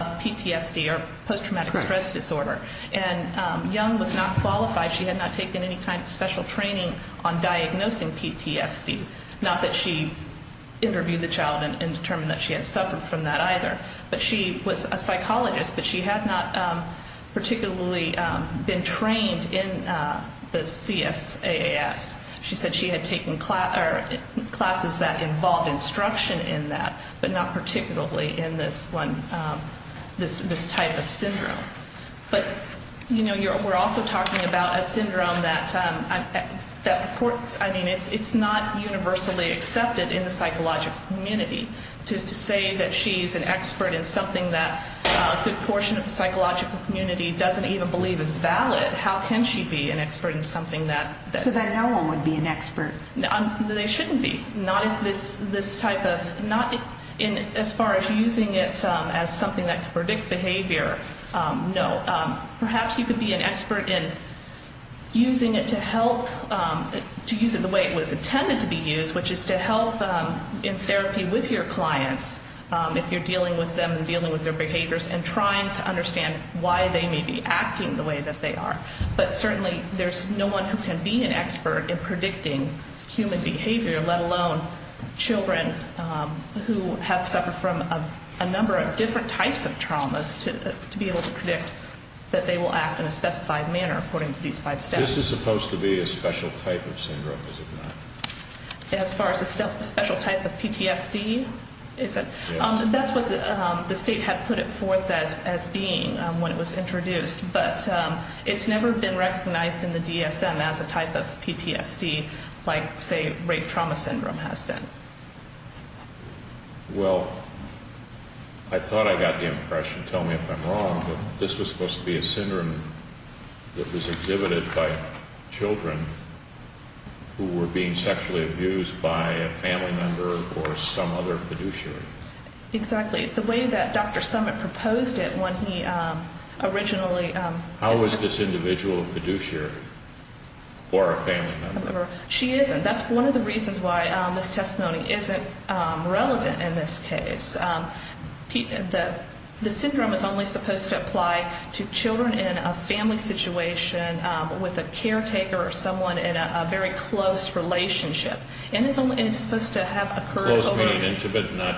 of PTSD, or post-traumatic stress disorder. And Young was not qualified. She had not taken any kind of special training on diagnosing PTSD. Not that she interviewed the child and determined that she had suffered from that either. But she was a psychologist, but she had not particularly been trained in the CSAAS. She said she had taken classes that involved instruction in that, but not particularly in this one, this type of syndrome. But, you know, we're also talking about a syndrome that, I mean, it's not universally accepted in the psychological community. To say that she's an expert in something that a good portion of the psychological community doesn't even believe is valid, how can she be an expert in something that... So that no one would be an expert? They shouldn't be. Not if this type of, not in as far as using it as something that can predict behavior, no. Perhaps you could be an expert in using it to help, to use it the way it was intended to be used, which is to help in therapy with your clients, if you're dealing with them and dealing with their behaviors, and trying to understand why they may be acting the way that they are. But certainly there's no one who can be an expert in predicting human behavior, let alone children who have suffered from a number of different types of traumas to be able to predict that they will act in a specified manner according to these five steps. This is supposed to be a special type of syndrome, is it not? As far as a special type of PTSD? That's what the state had put it forth as being when it was introduced, but it's never been recognized in the DSM as a type of PTSD, like, say, rape trauma syndrome has been. Well, I thought I got the impression, tell me if I'm wrong, that this was supposed to be a syndrome that was exhibited by children who were being sexually abused by a family member or some other fiduciary. Exactly. The way that Dr. Summitt proposed it when he originally... How was this individual a fiduciary or a family member? She isn't. That's one of the reasons why this testimony isn't relevant in this case. The syndrome is only supposed to apply to children in a family situation with a caretaker or someone in a very close relationship. And it's supposed to have occurred over...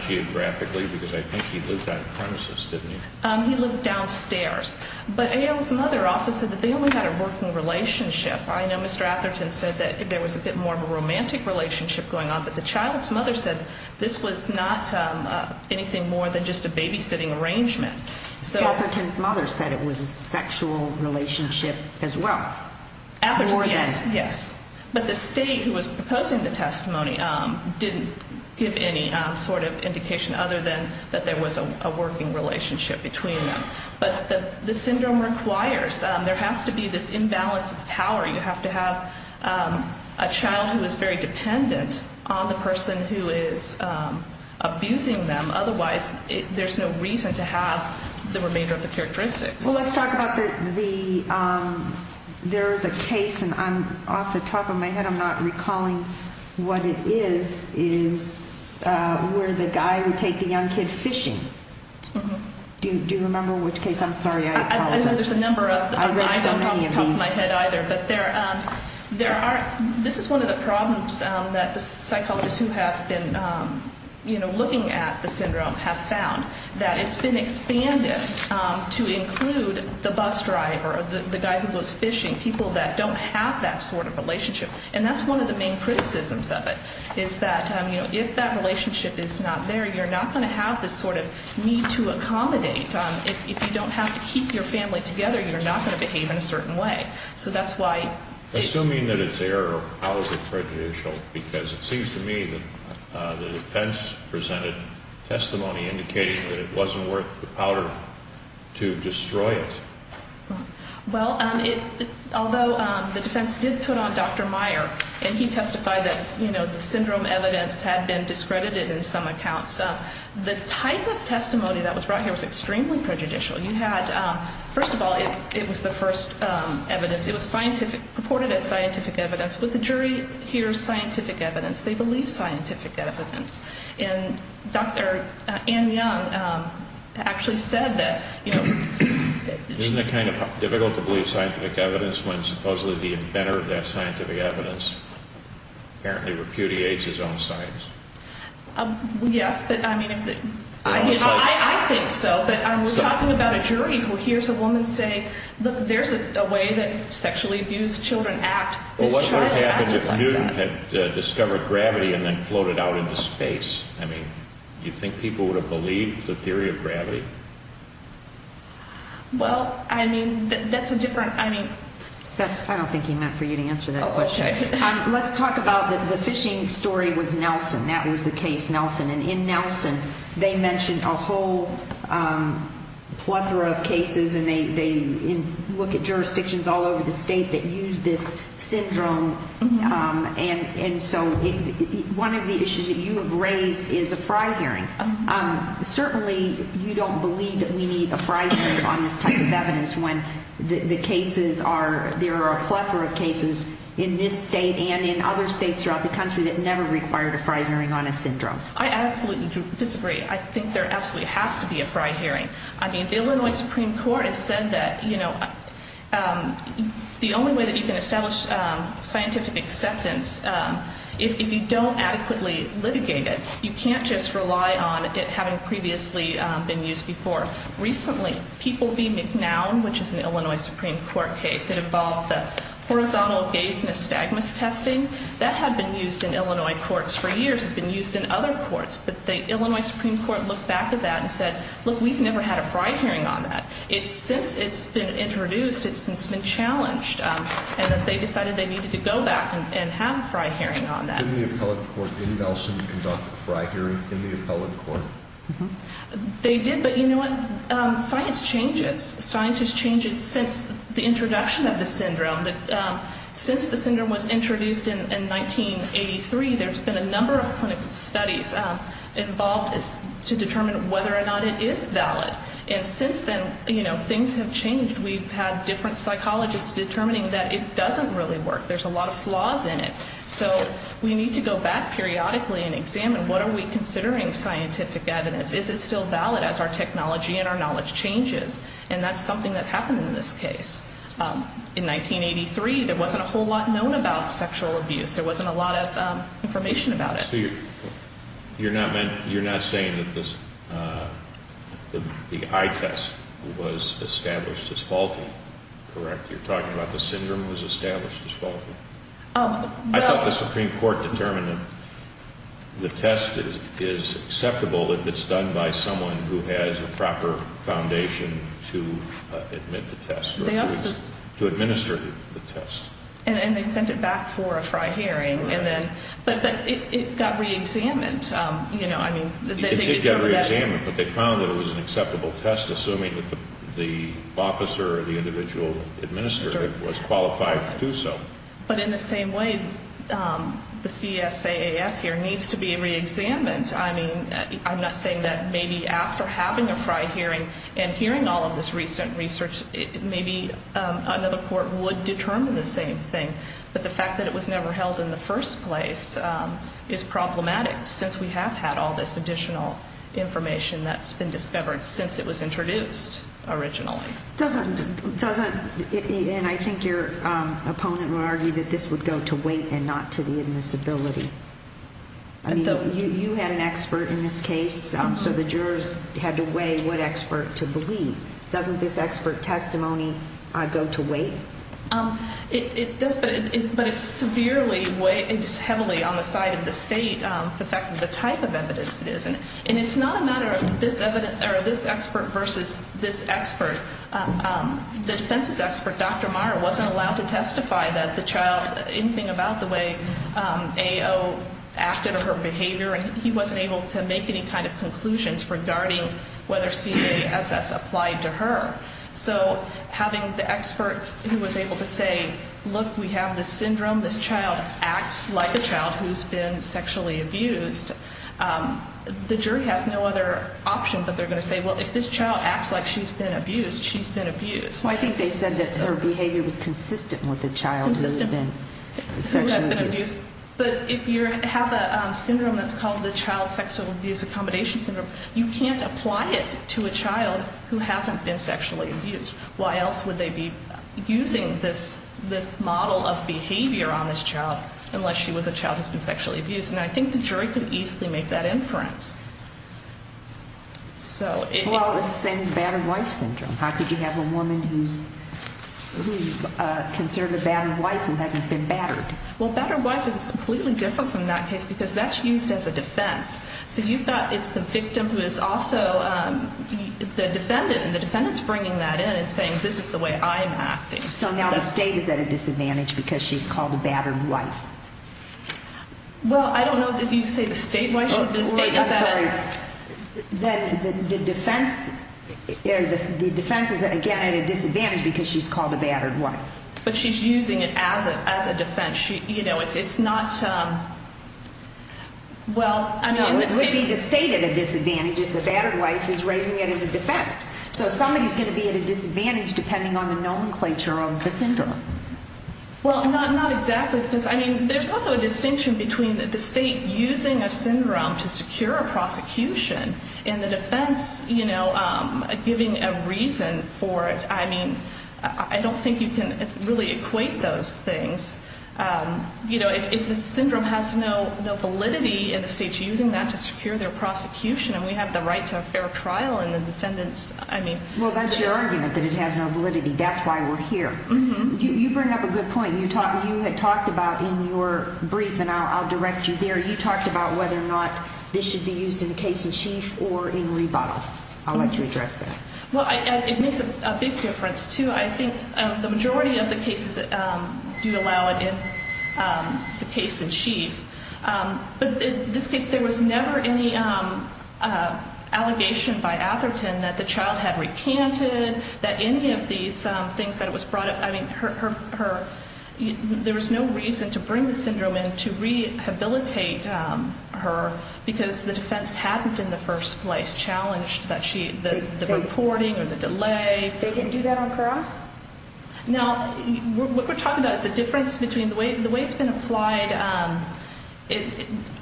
Geographically, because I think he lived out of premises, didn't he? He lived downstairs. But A.L.'s mother also said that they only had a working relationship. I know Mr. Atherton said that there was a bit more of a romantic relationship going on, but the child's mother said this was not anything more than just a babysitting arrangement. Mr. Atherton's mother said it was a sexual relationship as well. Yes, yes. But the state who was proposing the testimony didn't give any sort of indication other than that there was a working relationship between them. But the syndrome requires... There has to be this imbalance of power. You have to have a child who is very dependent on the person who is abusing them. Otherwise, there's no reason to have the remainder of the characteristics. Well, let's talk about the... There is a case, and off the top of my head I'm not recalling what it is, is where the guy would take the young kid fishing. Do you remember which case? I'm sorry, I apologize. I know there's a number of them. I read so many of these. I don't know off the top of my head either, but there are... This is one of the problems that the psychologists who have been looking at the syndrome have found, that it's been expanded to include the bus driver, the guy who was fishing, people that don't have that sort of relationship. And that's one of the main criticisms of it, is that if that relationship is not there, you're not going to have this sort of need to accommodate. If you don't have to keep your family together, you're not going to behave in a certain way. So that's why... Assuming that it's error, how is it prejudicial? Because it seems to me that the defense presented testimony indicating that it wasn't worth the power to destroy it. Well, although the defense did put on Dr. Meyer, and he testified that the syndrome evidence had been discredited in some accounts, the type of testimony that was brought here was extremely prejudicial. First of all, it was the first evidence. It was reported as scientific evidence, but the jury hears scientific evidence. They believe scientific evidence. And Dr. Ann Young actually said that... Isn't it kind of difficult to believe scientific evidence when supposedly the inventor of that scientific evidence apparently repudiates his own science? Yes, but I mean... I think so, but I was talking about a jury who hears a woman say, look, there's a way that sexually abused children act. Well, what would have happened if Newton had discovered gravity and then floated out into space? I mean, you think people would have believed the theory of gravity? Well, I mean, that's a different... I mean... That's... I don't think he meant for you to answer that question. Oh, okay. Let's talk about the fishing story with Nelson. That was the case, Nelson. And in Nelson, they mentioned a whole plethora of cases, and they look at jurisdictions all over the country that require a fry hearing on a syndrome. And so one of the issues that you have raised is a fry hearing. Certainly, you don't believe that we need a fry hearing on this type of evidence when the cases are... There are a plethora of cases in this state and in other states throughout the country that never required a fry hearing on a syndrome. I absolutely disagree. I think there absolutely has to be a fry hearing. I mean, the Illinois that you can establish scientific acceptance, if you don't adequately litigate it, you can't just rely on it having previously been used before. Recently, People v. McNown, which is an Illinois Supreme Court case that involved the horizontal gaze nystagmus testing, that had been used in Illinois courts for years. It had been used in other courts, but the Illinois Supreme Court looked back at that and said, look, we've never had a fry hearing on that. Since it's been introduced, it's since been challenged, and that they decided they needed to go back and have a fry hearing on that. Did the appellate court in Nelson conduct a fry hearing in the appellate court? They did, but you know what? Science changes. Science has changed since the introduction of the syndrome. Since the syndrome was introduced in 1983, there's been a number of clinical studies involved to determine whether or not it is valid. And since then, you know, things have changed. We've had different psychologists determining that it doesn't really work. There's a lot of flaws in it. So we need to go back periodically and examine what are we considering scientific evidence? Is it still valid as our technology and our knowledge changes? And that's something that happened in this case. In 1983, there wasn't a whole lot known about sexual abuse. There wasn't a lot of information about it. So you're not saying that the eye test was established as faulty, correct? You're talking about the syndrome was established as faulty? No. I thought the Supreme Court determined that the test is acceptable if it's done by someone who has a proper foundation to admit the test, to administer the test. And they sent it back for a FRI hearing. But it got reexamined. It did get reexamined, but they found that it was an acceptable test, assuming that the officer or the individual administering it was qualified to do so. But in the same way, the CSAAS here needs to be reexamined. I mean, I'm not saying that maybe after having a FRI hearing and hearing all of this recent research, maybe another same thing. But the fact that it was never held in the first place is problematic since we have had all this additional information that's been discovered since it was introduced originally. And I think your opponent would argue that this would go to weight and not to the admissibility. I mean, you had an expert in this case, so the jurors had to weigh what expert to believe. Doesn't this expert testimony go to weight? It does, but it's severely, heavily on the side of the state, the fact that the type of evidence it is. And it's not a matter of this expert versus this expert. The defense's expert, Dr. Marra, wasn't allowed to testify that the child, anything about the way AO acted or her behavior, and he wasn't able to make any kind of conclusions regarding whether CSAAS applied to her. So having the expert who was able to say, look, we have this syndrome, this child acts like a child who's been sexually abused, the jury has no other option but they're going to say, well, if this child acts like she's been abused, she's been abused. I think they said that her behavior was consistent with the child who had been sexually abused. But if you have a syndrome that's called the child sexual abuse accommodation syndrome, you can't apply it to a child who hasn't been sexually abused. Why else would they be using this model of behavior on this child unless she was a child who's been sexually abused? And I think the jury could easily make that inference. Well, it's the same as battered wife syndrome. How could you have a woman who's considered a battered wife who hasn't been battered? Well, battered wife is completely different from that case because that's used as a defense. So you've got, it's the victim who is also the defendant, and the defendant's bringing that in and saying, this is the way I'm acting. So now the state is at a disadvantage because she's called a battered wife. Well, I don't know if you say the state, why should the state? I'm sorry. The defense is, again, at a disadvantage because she's called a battered wife. But she's using it as a defense. It's not, well, I mean. No, it would be the state at a disadvantage if the battered wife is raising it as a defense. So somebody's going to be at a disadvantage depending on the nomenclature of the syndrome. Well, not exactly because, I mean, there's also a distinction between the state using a syndrome to secure a prosecution and the defense, you know, giving a reason for it. I mean, I don't think you can really equate those things. You know, if the syndrome has no validity and the state's using that to secure their prosecution and we have the right to a fair trial and the defendants, I mean. Well, that's your argument, that it has no validity. That's why we're here. You bring up a good point. You had talked about in your brief, and I'll direct you there, you talked about whether or not this should be used in a case in chief or in rebuttal. I'll let you address that. Well, it makes a big difference, too. I think the majority of the cases do allow it in the case in chief. But in this case, there was never any allegation by Atherton that the child had recanted, that any of these things that it was brought up. I mean, there was no reason to bring the syndrome in to rehabilitate her because the defense hadn't in the first place challenged the reporting or the delay. They didn't do that on cross? No. What we're talking about is the difference between the way it's been applied.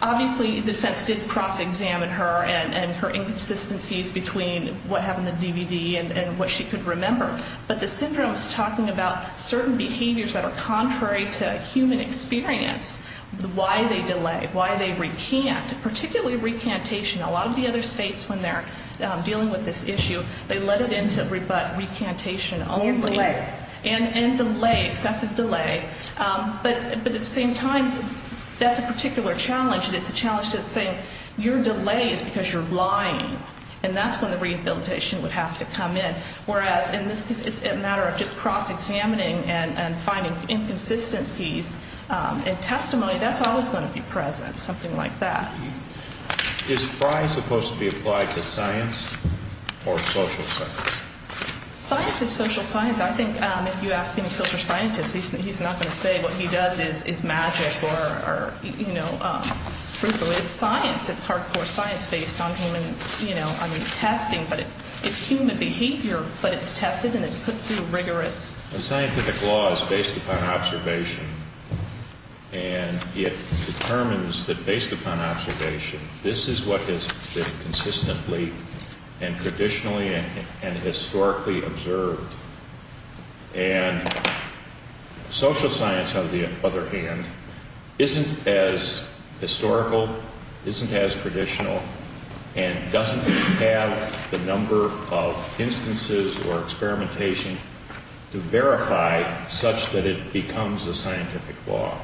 Obviously, the defense did cross-examine her and her inconsistencies between what happened in the DVD and what she could remember. But the syndrome is talking about certain behaviors that are contrary to human experience, why they delay, why they recant, particularly recantation. A lot of the other states, when they're dealing with this issue, they let it into recantation only. More delay. And delay, excessive delay. But at the same time, that's a particular challenge, and it's a challenge to saying your delay is because you're lying, and that's when the rehabilitation would have to come in. Whereas in this case, it's a matter of just cross-examining and finding inconsistencies in testimony. That's always going to be present, something like that. Is Frye supposed to be applied to science or social science? Science is social science. I think if you ask any social scientist, he's not going to say what he does is magic or, you know, truthfully. It's science. It's hardcore science based on human, you know, I mean, testing. But it's human behavior, but it's tested and it's put through rigorous. The scientific law is based upon observation, and it determines that based upon observation, this is what has been consistently and traditionally and historically observed. And social science, on the other hand, isn't as historical, isn't as traditional, and doesn't have the number of instances or experimentation to verify such that it becomes a scientific law.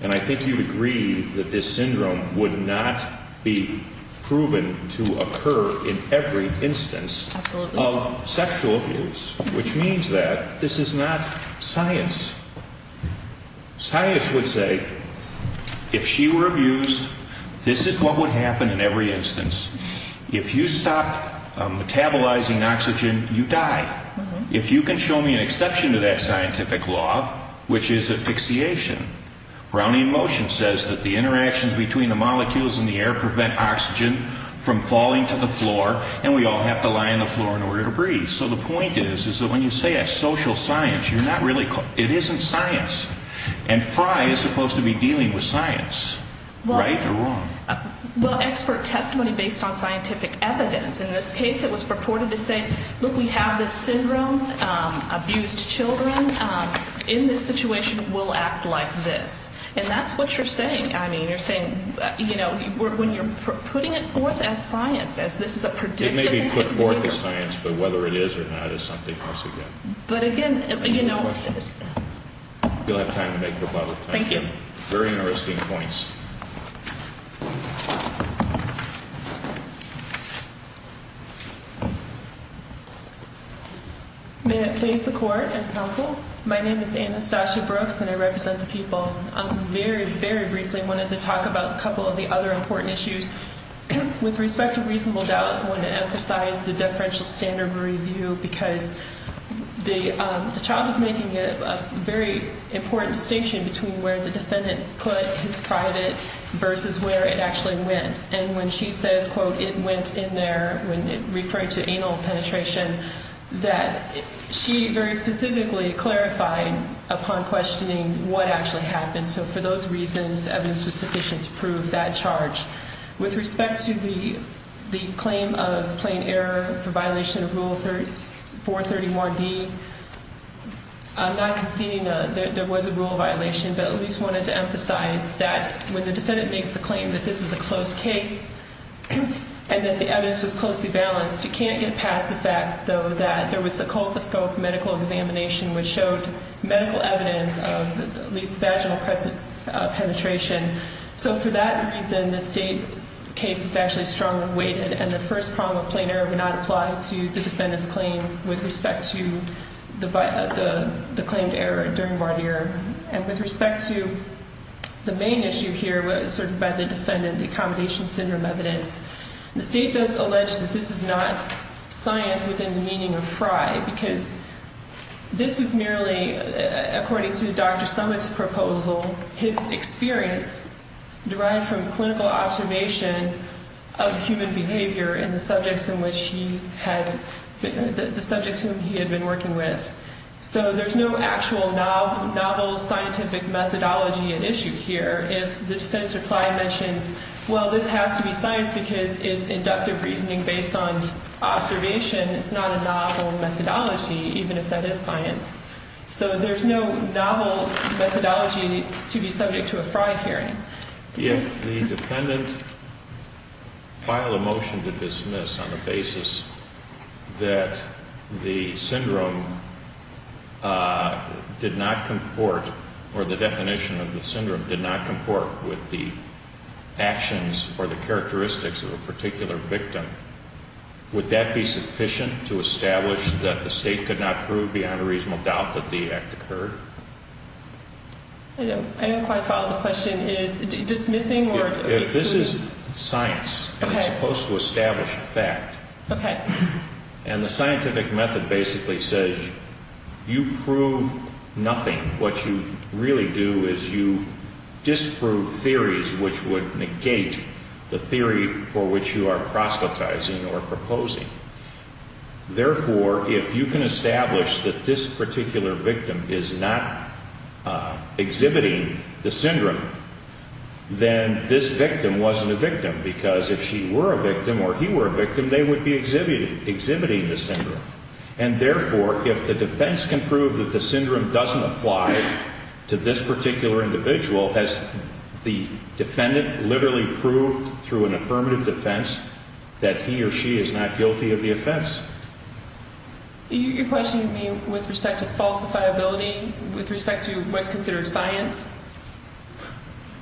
And I think you'd agree that this syndrome would not be proven to occur in every instance of sexual abuse, which means that this is not science. Science would say, if she were abused, this is what would happen in every instance. If you stop metabolizing oxygen, you die. If you can show me an exception to that scientific law, which is asphyxiation, Brownian motion says that the interactions between the molecules in the air prevent oxygen from falling to the floor, and we all have to lie on the floor in order to breathe. So the point is, is that when you say that's social science, you're not really, it isn't science. And Frye is supposed to be dealing with science. Right or wrong? Well, expert testimony based on scientific evidence. In this case, it was purported to say, look, we have this syndrome, abused children. In this situation, we'll act like this. And that's what you're saying. I mean, you're saying, you know, when you're putting it forth as science, as this is a prediction. It may be put forth as science, but whether it is or not is something else again. But again, you know. Any more questions? You'll have time to make the bubble. Thank you. Very interesting points. May it please the court and counsel. My name is Anastasia Brooks, and I represent the people. I very, very briefly wanted to talk about a couple of the other important issues. With respect to reasonable doubt, I wanted to emphasize the deferential standard review, because the child is making a very important distinction between where the defendant put his private versus where it actually went. And when she says, quote, it went in there, when it referred to anal penetration, that she very specifically clarified upon questioning what actually happened. So for those reasons, the evidence was sufficient to prove that charge. With respect to the claim of plain error for violation of Rule 430-1B, I'm not conceding that there was a rule violation, but at least wanted to emphasize that when the defendant makes the claim that this was a close case and that the evidence was closely balanced, you can't get past the fact, though, that there was a colposcopic medical examination which showed medical evidence of at least vaginal penetration. So for that reason, the state case was actually strongly weighted, and the first prong of plain error would not apply to the defendant's claim with respect to the claimed error during voir dire. And with respect to the main issue here, sort of by the defendant, the accommodation syndrome evidence, the state does allege that this is not science within the meaning of FRI, because this was merely, according to Dr. Summitt's proposal, his experience derived from clinical observation of human behavior in the subjects in which he had been working with. So there's no actual novel scientific methodology at issue here if the defendant's reply mentions, well, this has to be science because it's inductive reasoning based on observation. It's not a novel methodology, even if that is science. So there's no novel methodology to be subject to a FRI hearing. If the defendant filed a motion to dismiss on the basis that the syndrome did not comport, or the definition of the syndrome did not comport with the actions or the characteristics of a particular victim, would that be sufficient to establish that the state could not prove beyond a reasonable doubt that the act occurred? I didn't quite follow the question. Is dismissing or excluding? If this is science, it's supposed to establish a fact. Okay. And the scientific method basically says you prove nothing. What you really do is you disprove theories which would negate the theory for which you are proselytizing or proposing. Therefore, if you can establish that this particular victim is not exhibiting the syndrome, then this victim wasn't a victim because if she were a victim or he were a victim, they would be exhibiting the syndrome. And therefore, if the defense can prove that the syndrome doesn't apply to this particular individual, has the defendant literally proved through an affirmative defense that he or she is not guilty of the offense? You're questioning me with respect to falsifiability, with respect to what's considered science?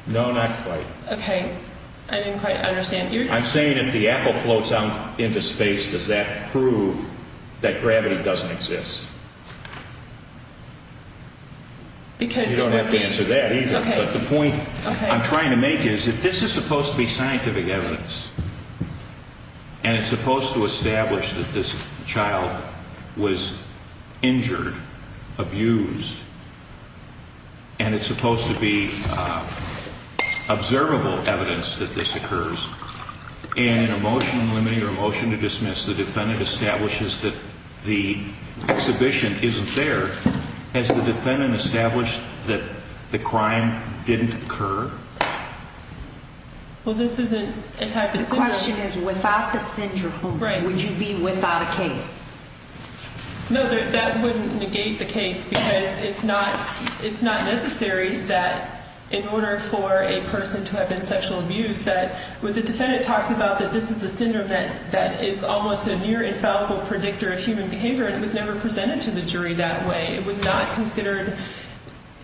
No, not quite. Okay. I didn't quite understand. I'm saying if the apple floats out into space, does that prove that gravity doesn't exist? You don't have to answer that either. Okay. But the point I'm trying to make is if this is supposed to be scientific evidence and it's supposed to establish that this child was injured, abused, and it's supposed to be observable evidence that this occurs, and in a motion limiting or a motion to dismiss, the defendant establishes that the exhibition isn't there, has the defendant established that the crime didn't occur? Well, this isn't a type of syndrome. The question is without the syndrome, would you be without a case? No, that wouldn't negate the case because it's not necessary that in order for a person to have been sexually abused that when the defendant talks about that this is a syndrome that is almost a near infallible predictor of human behavior and it was never presented to the jury that way, it was not considered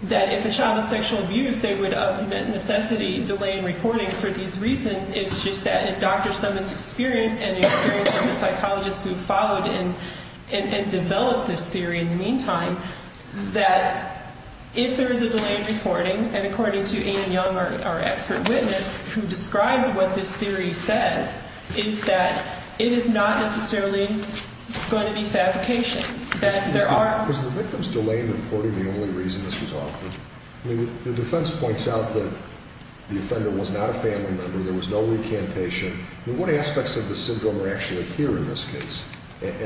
that if a child was sexually abused they would of necessity delay in reporting for these reasons. It's just that in Dr. Summon's experience and the experience of the psychologists who have followed and developed this theory in the meantime, that if there is a delay in reporting, and according to Ian Young, our expert witness, who described what this theory says, is that it is not necessarily going to be fabrication. Is the victim's delay in reporting the only reason this was offered? The defense points out that the offender was not a family member, there was no recantation. What aspects of the syndrome actually appear in this case? With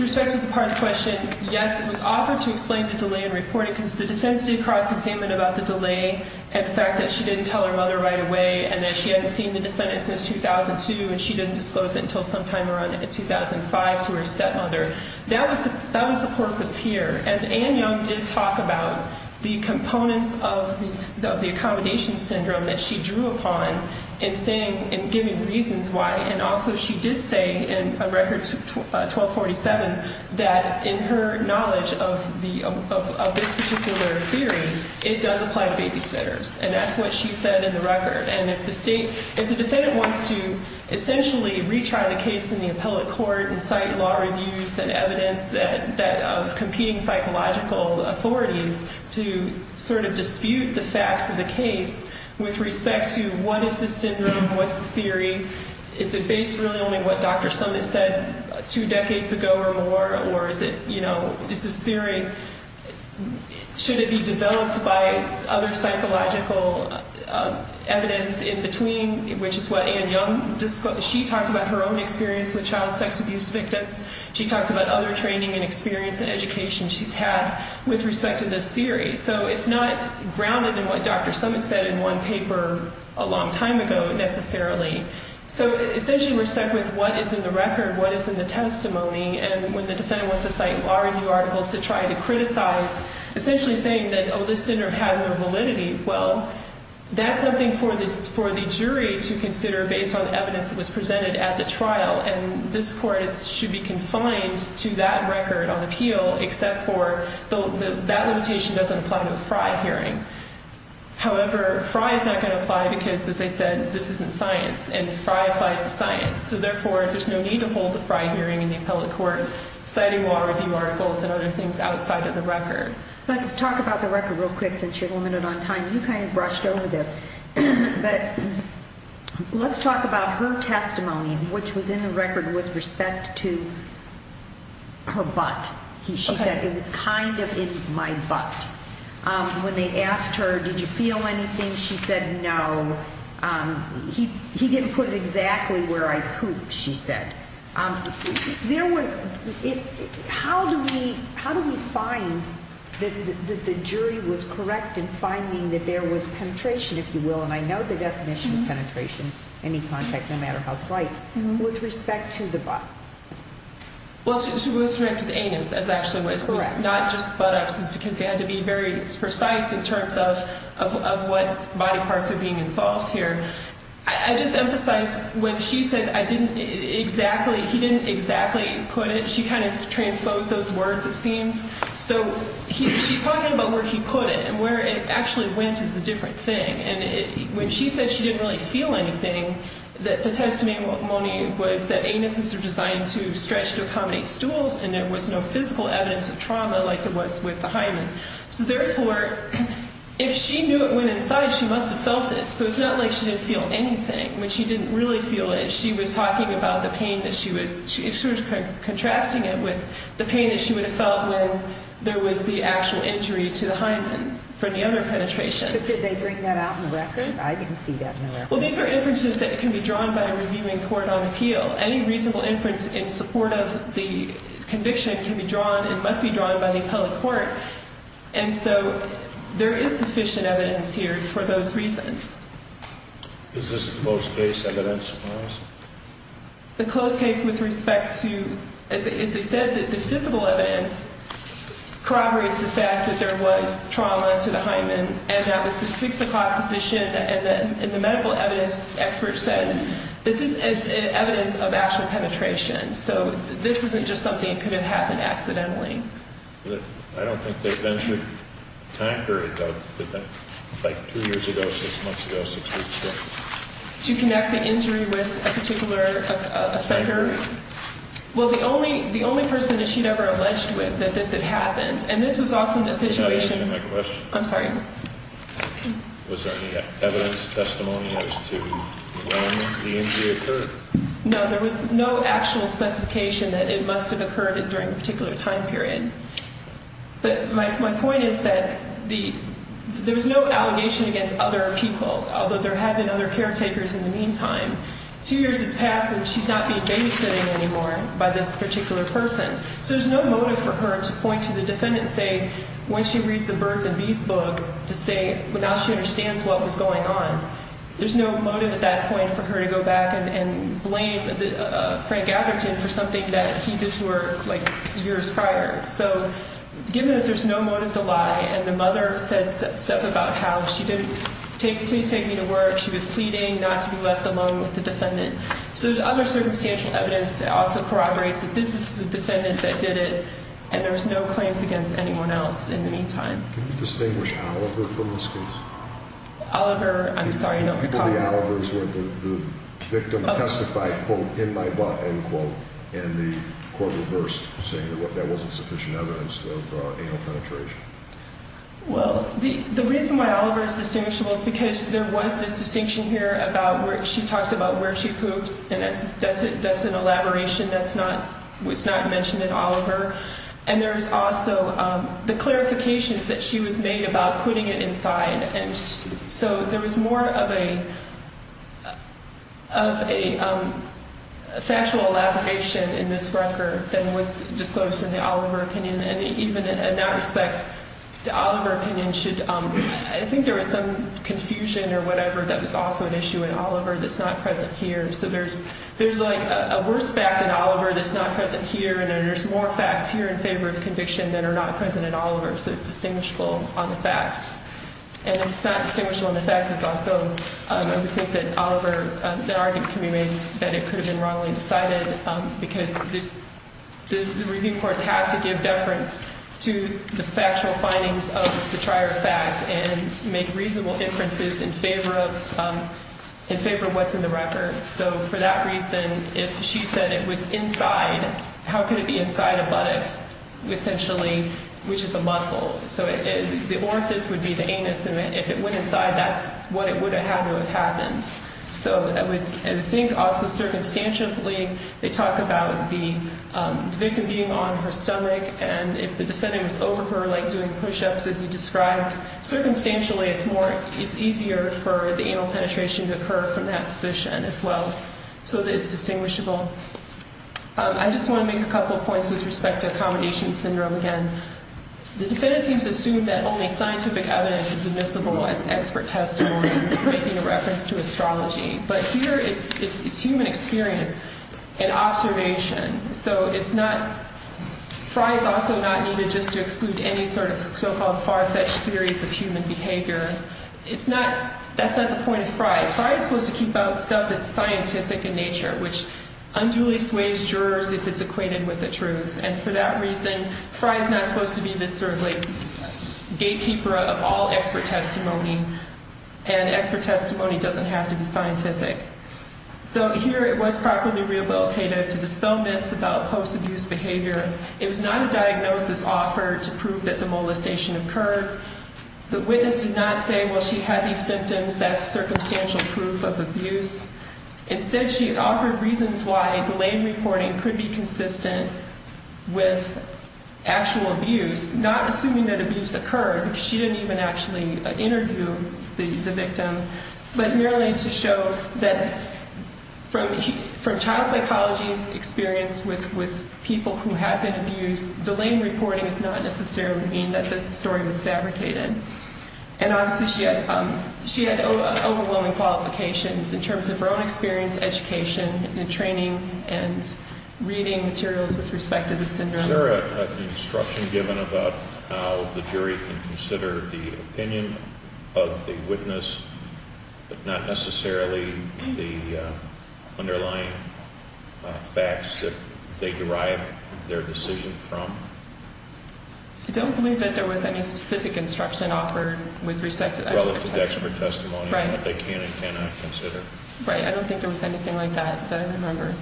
respect to the part of the question, yes, it was offered to explain the delay in reporting because the defense did cross-examine about the delay and the fact that she didn't tell her mother right away and that she hadn't seen the defendant since 2002 and she didn't disclose it until sometime around 2005 to her stepmother. That was the purpose here. And Ian Young did talk about the components of the accommodation syndrome that she drew upon in giving reasons why, and also she did say in Record 1247 that in her knowledge of this particular theory, it does apply to babysitters, and that's what she said in the record. And if the defendant wants to essentially retry the case in the appellate court and cite law reviews and evidence of competing psychological authorities to sort of dispute the facts of the case with respect to what is the syndrome, what's the theory, is it based really only on what Dr. Summitt said two decades ago or more, or is it, you know, is this theory, should it be developed by other psychological evidence in between, which is what Ian Young discussed. She talked about her own experience with child sex abuse victims. She talked about other training and experience and education she's had with respect to this theory. So it's not grounded in what Dr. Summitt said in one paper a long time ago necessarily. So essentially we're stuck with what is in the record, what is in the testimony, and when the defendant wants to cite law review articles to try to criticize, essentially saying that, oh, this syndrome has no validity. Well, that's something for the jury to consider based on evidence that was presented at the trial, and this court should be confined to that record on appeal except for that limitation doesn't apply to a FRI hearing. However, FRI is not going to apply because, as I said, this isn't science, and FRI applies to science. So therefore there's no need to hold a FRI hearing in the appellate court citing law review articles and other things outside of the record. Let's talk about the record real quick since you're limited on time. You kind of brushed over this, but let's talk about her testimony, which was in the record with respect to her butt. She said, it was kind of in my butt. When they asked her, did you feel anything, she said no. He didn't put it exactly where I pooped, she said. How do we find that the jury was correct in finding that there was penetration, if you will, and I know the definition of penetration, any contact, no matter how slight, with respect to the butt? Well, she was directed to anus. That's actually what it was, not just butt absence because you had to be very precise in terms of what body parts are being involved here. I just emphasized when she says he didn't exactly put it, she kind of transposed those words, it seems. So she's talking about where he put it and where it actually went is a different thing. And when she said she didn't really feel anything, the testimony, Moni, was that anuses are designed to stretch to accommodate stools and there was no physical evidence of trauma like there was with the hymen. So therefore, if she knew it went inside, she must have felt it. So it's not like she didn't feel anything when she didn't really feel it. She was talking about the pain that she was, she was contrasting it with the pain that she would have felt when there was the actual injury to the hymen from the other penetration. But did they bring that out in the record? I didn't see that in the record. Well, these are inferences that can be drawn by a reviewing court on appeal. Any reasonable inference in support of the conviction can be drawn and must be drawn by the appellate court. And so there is sufficient evidence here for those reasons. Is this close case evidence? The close case with respect to, as they said, the physical evidence corroborates the fact that there was trauma to the hymen. And that was the 6 o'clock position. And the medical evidence expert says that this is evidence of actual penetration. So this isn't just something that could have happened accidentally. I don't think there's an injury time period, though. It's like two years ago, six months ago, six weeks ago. To connect the injury with a particular offender? Well, the only person that she'd ever alleged with that this had happened, and this was also in a situation. You're not answering my question. I'm sorry. Was there any evidence, testimony as to when the injury occurred? No, there was no actual specification that it must have occurred during a particular time period. But my point is that there was no allegation against other people, although there had been other caretakers in the meantime. Two years has passed, and she's not being babysitting anymore by this particular person. So there's no motive for her to point to the defendant and say, when she reads the birds and bees book, to say now she understands what was going on. There's no motive at that point for her to go back and blame Frank Atherton for something that he did to her, like, years prior. So given that there's no motive to lie and the mother said stuff about how she didn't take, please take me to work, she was pleading not to be left alone with the defendant. So there's other circumstantial evidence that also corroborates that this is the defendant that did it, and there was no claims against anyone else in the meantime. Can you distinguish Oliver from this case? Oliver, I'm sorry, I don't recall. The Oliver's where the victim testified, quote, in my book, end quote, and the court reversed, saying that wasn't sufficient evidence of anal penetration. Well, the reason why Oliver is distinguishable is because there was this distinction here about where she talks about where she poops, and that's an elaboration that's not mentioned in Oliver. And there's also the clarifications that she was made about putting it inside. And so there was more of a factual elaboration in this record than was disclosed in the Oliver opinion. And even in that respect, the Oliver opinion should, I think there was some confusion or whatever that was also an issue in Oliver that's not present here. So there's like a worse fact in Oliver that's not present here, and there's more facts here in favor of conviction that are not present in Oliver. So it's distinguishable on the facts. And if it's not distinguishable on the facts, it's also, I would think, that Oliver, that argument can be made that it could have been wrongly decided, because the review courts have to give deference to the factual findings of the prior fact and make reasonable inferences in favor of what's in the record. So for that reason, if she said it was inside, how could it be inside a buttocks, essentially, which is a muscle? So the orifice would be the anus, and if it went inside, that's what it would have had to have happened. So I would think also, circumstantially, they talk about the victim being on her stomach, and if the defendant was over her, like doing push-ups, as you described, circumstantially it's easier for the anal penetration to occur from that position as well. So it is distinguishable. I just want to make a couple of points with respect to accommodation syndrome again. The defendant seems to assume that only scientific evidence is admissible as expert testimony, making a reference to astrology, but here it's human experience and observation. So it's notóFrey is also not needed just to exclude any sort of so-called far-fetched theories of human behavior. It's notóthat's not the point of Frey. Frey is supposed to keep out stuff that's scientific in nature, which unduly sways jurors if it's acquainted with the truth, and for that reason, Frey is not supposed to be this sort of gatekeeper of all expert testimony, and expert testimony doesn't have to be scientific. So here it was properly rehabilitative to dispel myths about post-abuse behavior. It was not a diagnosis offered to prove that the molestation occurred. The witness did not say, well, she had these symptoms, that's circumstantial proof of abuse. Instead, she offered reasons why a delayed reporting could be consistent with actual abuse, not assuming that abuse occurred because she didn't even actually interview the victim, but merely to show that from child psychology's experience with people who had been abused, delayed reporting does not necessarily mean that the story was fabricated. And obviously she had overwhelming qualifications in terms of her own experience, education, and training, and reading materials with respect to the syndrome. Is there an instruction given about how the jury can consider the opinion of the witness, but not necessarily the underlying facts that they derive their decision from? I don't believe that there was any specific instruction offered with respect to that type of testimony. Relative to expert testimony. Right. That they can and cannot consider. I don't think there was anything like that that I remember.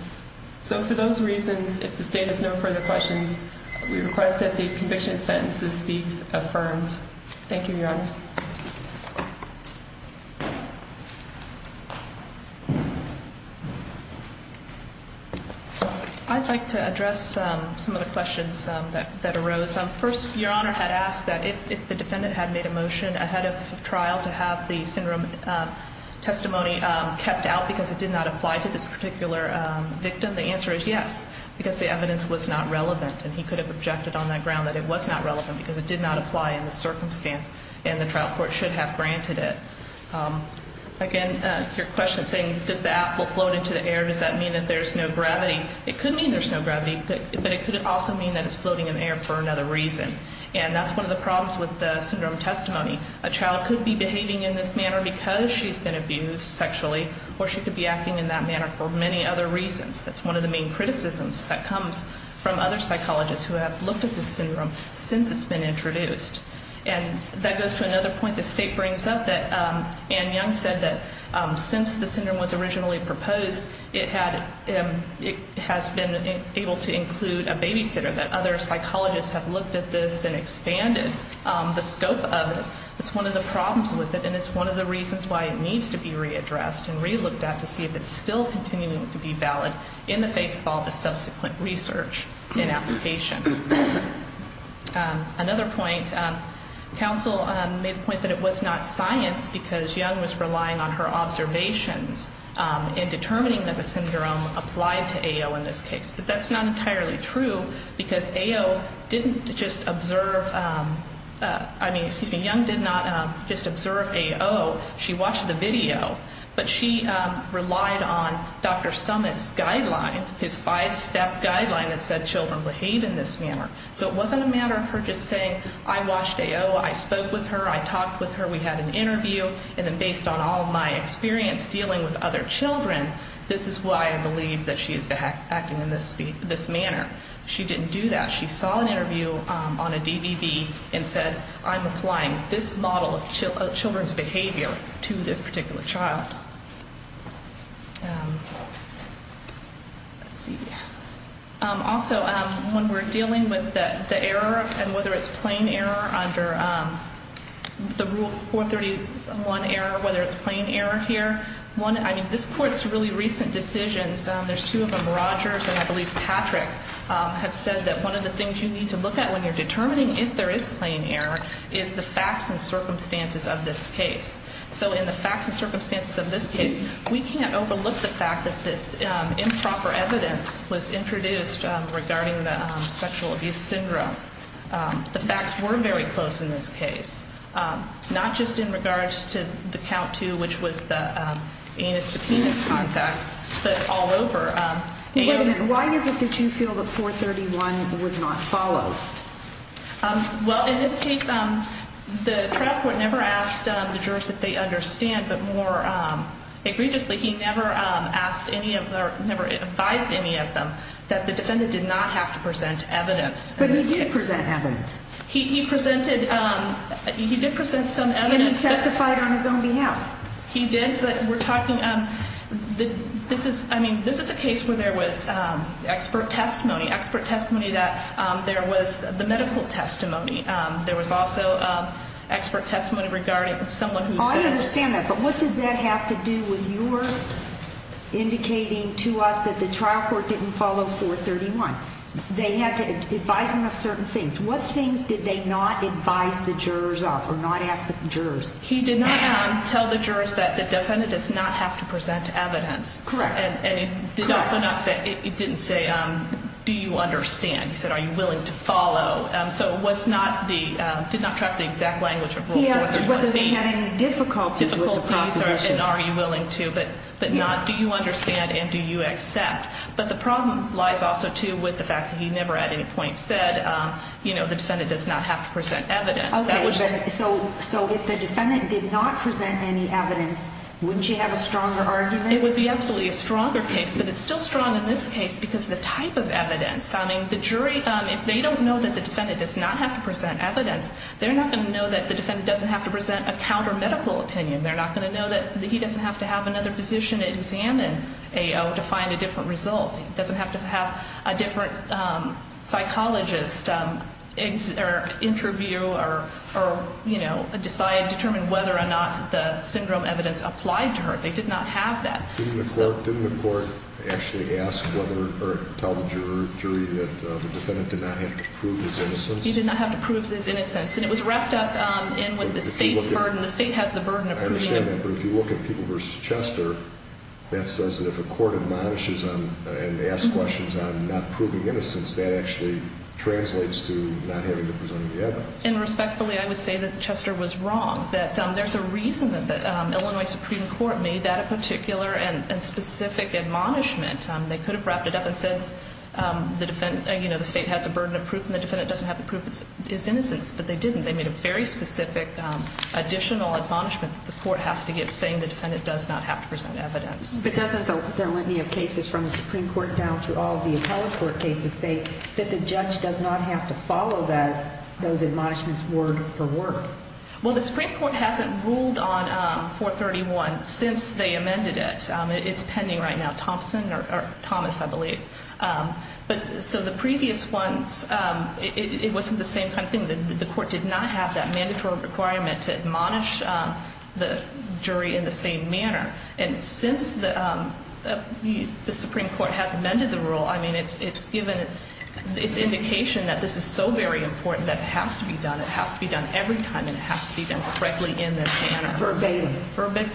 So for those reasons, if the State has no further questions, we request that the conviction sentences be affirmed. Thank you, Your Honors. I'd like to address some of the questions that arose. First, Your Honor had asked that if the defendant had made a motion ahead of trial to have the syndrome testimony kept out because it did not apply to this particular victim, the answer is yes, because the evidence was not relevant. And he could have objected on that ground that it was not relevant because it did not apply in the circumstance and the trial court should have granted it. Again, your question saying does the apple float into the air, does that mean that there's no gravity? It could mean there's no gravity, but it could also mean that it's floating in the air for another reason. And that's one of the problems with the syndrome testimony. A child could be behaving in this manner because she's been abused sexually or she could be acting in that manner for many other reasons. That's one of the main criticisms that comes from other psychologists who have looked at this syndrome since it's been introduced. And that goes to another point the State brings up that Anne Young said that since the syndrome was originally proposed, it has been able to include a babysitter, that other psychologists have looked at this and expanded the scope of it. It's one of the problems with it and it's one of the reasons why it needs to be readdressed and relooked at to see if it's still continuing to be valid in the face of all the subsequent research and application. Another point, counsel made the point that it was not science because Young was relying on her observations in determining that the syndrome applied to AO in this case. That's not entirely true because AO didn't just observe, I mean, excuse me, Young did not just observe AO. She watched the video. But she relied on Dr. Summitt's guideline, his five-step guideline that said children behave in this manner. So it wasn't a matter of her just saying, I watched AO, I spoke with her, I talked with her, we had an interview, and then based on all of my experience dealing with other children, this is why I believe that she is acting in this manner. She didn't do that. She saw an interview on a DVD and said, I'm applying this model of children's behavior to this particular child. Let's see. Also, when we're dealing with the error and whether it's plain error under the Rule 431 error, whether it's plain error here, one, I mean, this Court's really recent decisions, there's two of them, Rogers and I believe Patrick, have said that one of the things you need to look at when you're determining if there is plain error is the facts and circumstances of this case. So in the facts and circumstances of this case, we can't overlook the fact that this improper evidence was introduced regarding the sexual abuse syndrome. The facts were very close in this case, not just in regards to the count two, which was the anus-to-penis contact, but all over. Wait a minute. Why is it that you feel that 431 was not followed? Well, in this case, the trial court never asked the jurors if they understand, but more egregiously, he never advised any of them that the defendant did not have to present evidence. But he did present evidence. He did present some evidence. And he testified on his own behalf. He did. But we're talking, this is, I mean, this is a case where there was expert testimony, expert testimony that there was the medical testimony. There was also expert testimony regarding someone who said. I understand that. But what does that have to do with your indicating to us that the trial court didn't follow 431? They had to advise him of certain things. What things did they not advise the jurors of or not ask the jurors? He did not tell the jurors that the defendant does not have to present evidence. Correct. And he did also not say, he didn't say, do you understand? He said, are you willing to follow? So it was not the, did not track the exact language of rule. He asked whether they had any difficulties with the proposition. Difficulties and are you willing to, but not, do you understand and do you accept? But the problem lies also, too, with the fact that he never at any point said, you know, the defendant does not have to present evidence. So if the defendant did not present any evidence, wouldn't you have a stronger argument? It would be absolutely a stronger case, but it's still strong in this case because the type of evidence. I mean, the jury, if they don't know that the defendant does not have to present evidence, they're not going to know that the defendant doesn't have to present a counter-medical opinion. They're not going to know that he doesn't have to have another physician examine AO to find a different result. He doesn't have to have a different psychologist interview or, you know, decide, determine whether or not the syndrome evidence applied to her. They did not have that. Didn't the court actually ask whether or tell the jury that the defendant did not have to prove his innocence? He did not have to prove his innocence. And it was wrapped up in with the state's burden. The state has the burden of opinion. But if you look at People v. Chester, that says that if a court admonishes and asks questions on not proving innocence, that actually translates to not having to present any evidence. And respectfully, I would say that Chester was wrong, that there's a reason that the Illinois Supreme Court made that a particular and specific admonishment. They could have wrapped it up and said, you know, the state has a burden of proof, and the defendant doesn't have to prove his innocence, but they didn't. They made a very specific additional admonishment that the court has to give, saying the defendant does not have to present evidence. But doesn't the litany of cases from the Supreme Court down to all of the appellate court cases say that the judge does not have to follow those admonishments word for word? Well, the Supreme Court hasn't ruled on 431 since they amended it. It's pending right now. Thompson or Thomas, I believe. So the previous ones, it wasn't the same kind of thing. The court did not have that mandatory requirement to admonish the jury in the same manner. And since the Supreme Court has amended the rule, I mean, it's given its indication that this is so very important that it has to be done, it has to be done every time, and it has to be done correctly in this manner. Verbatim. Verbatim.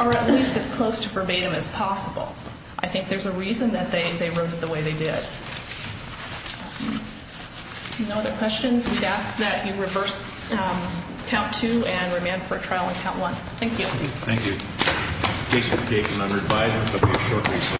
Or at least as close to verbatim as possible. I think there's a reason that they wrote it the way they did. No other questions? We'd ask that you reverse count two and remand for trial in count one. Thank you. Thank you. The case has been taken under advice and will be a short recess.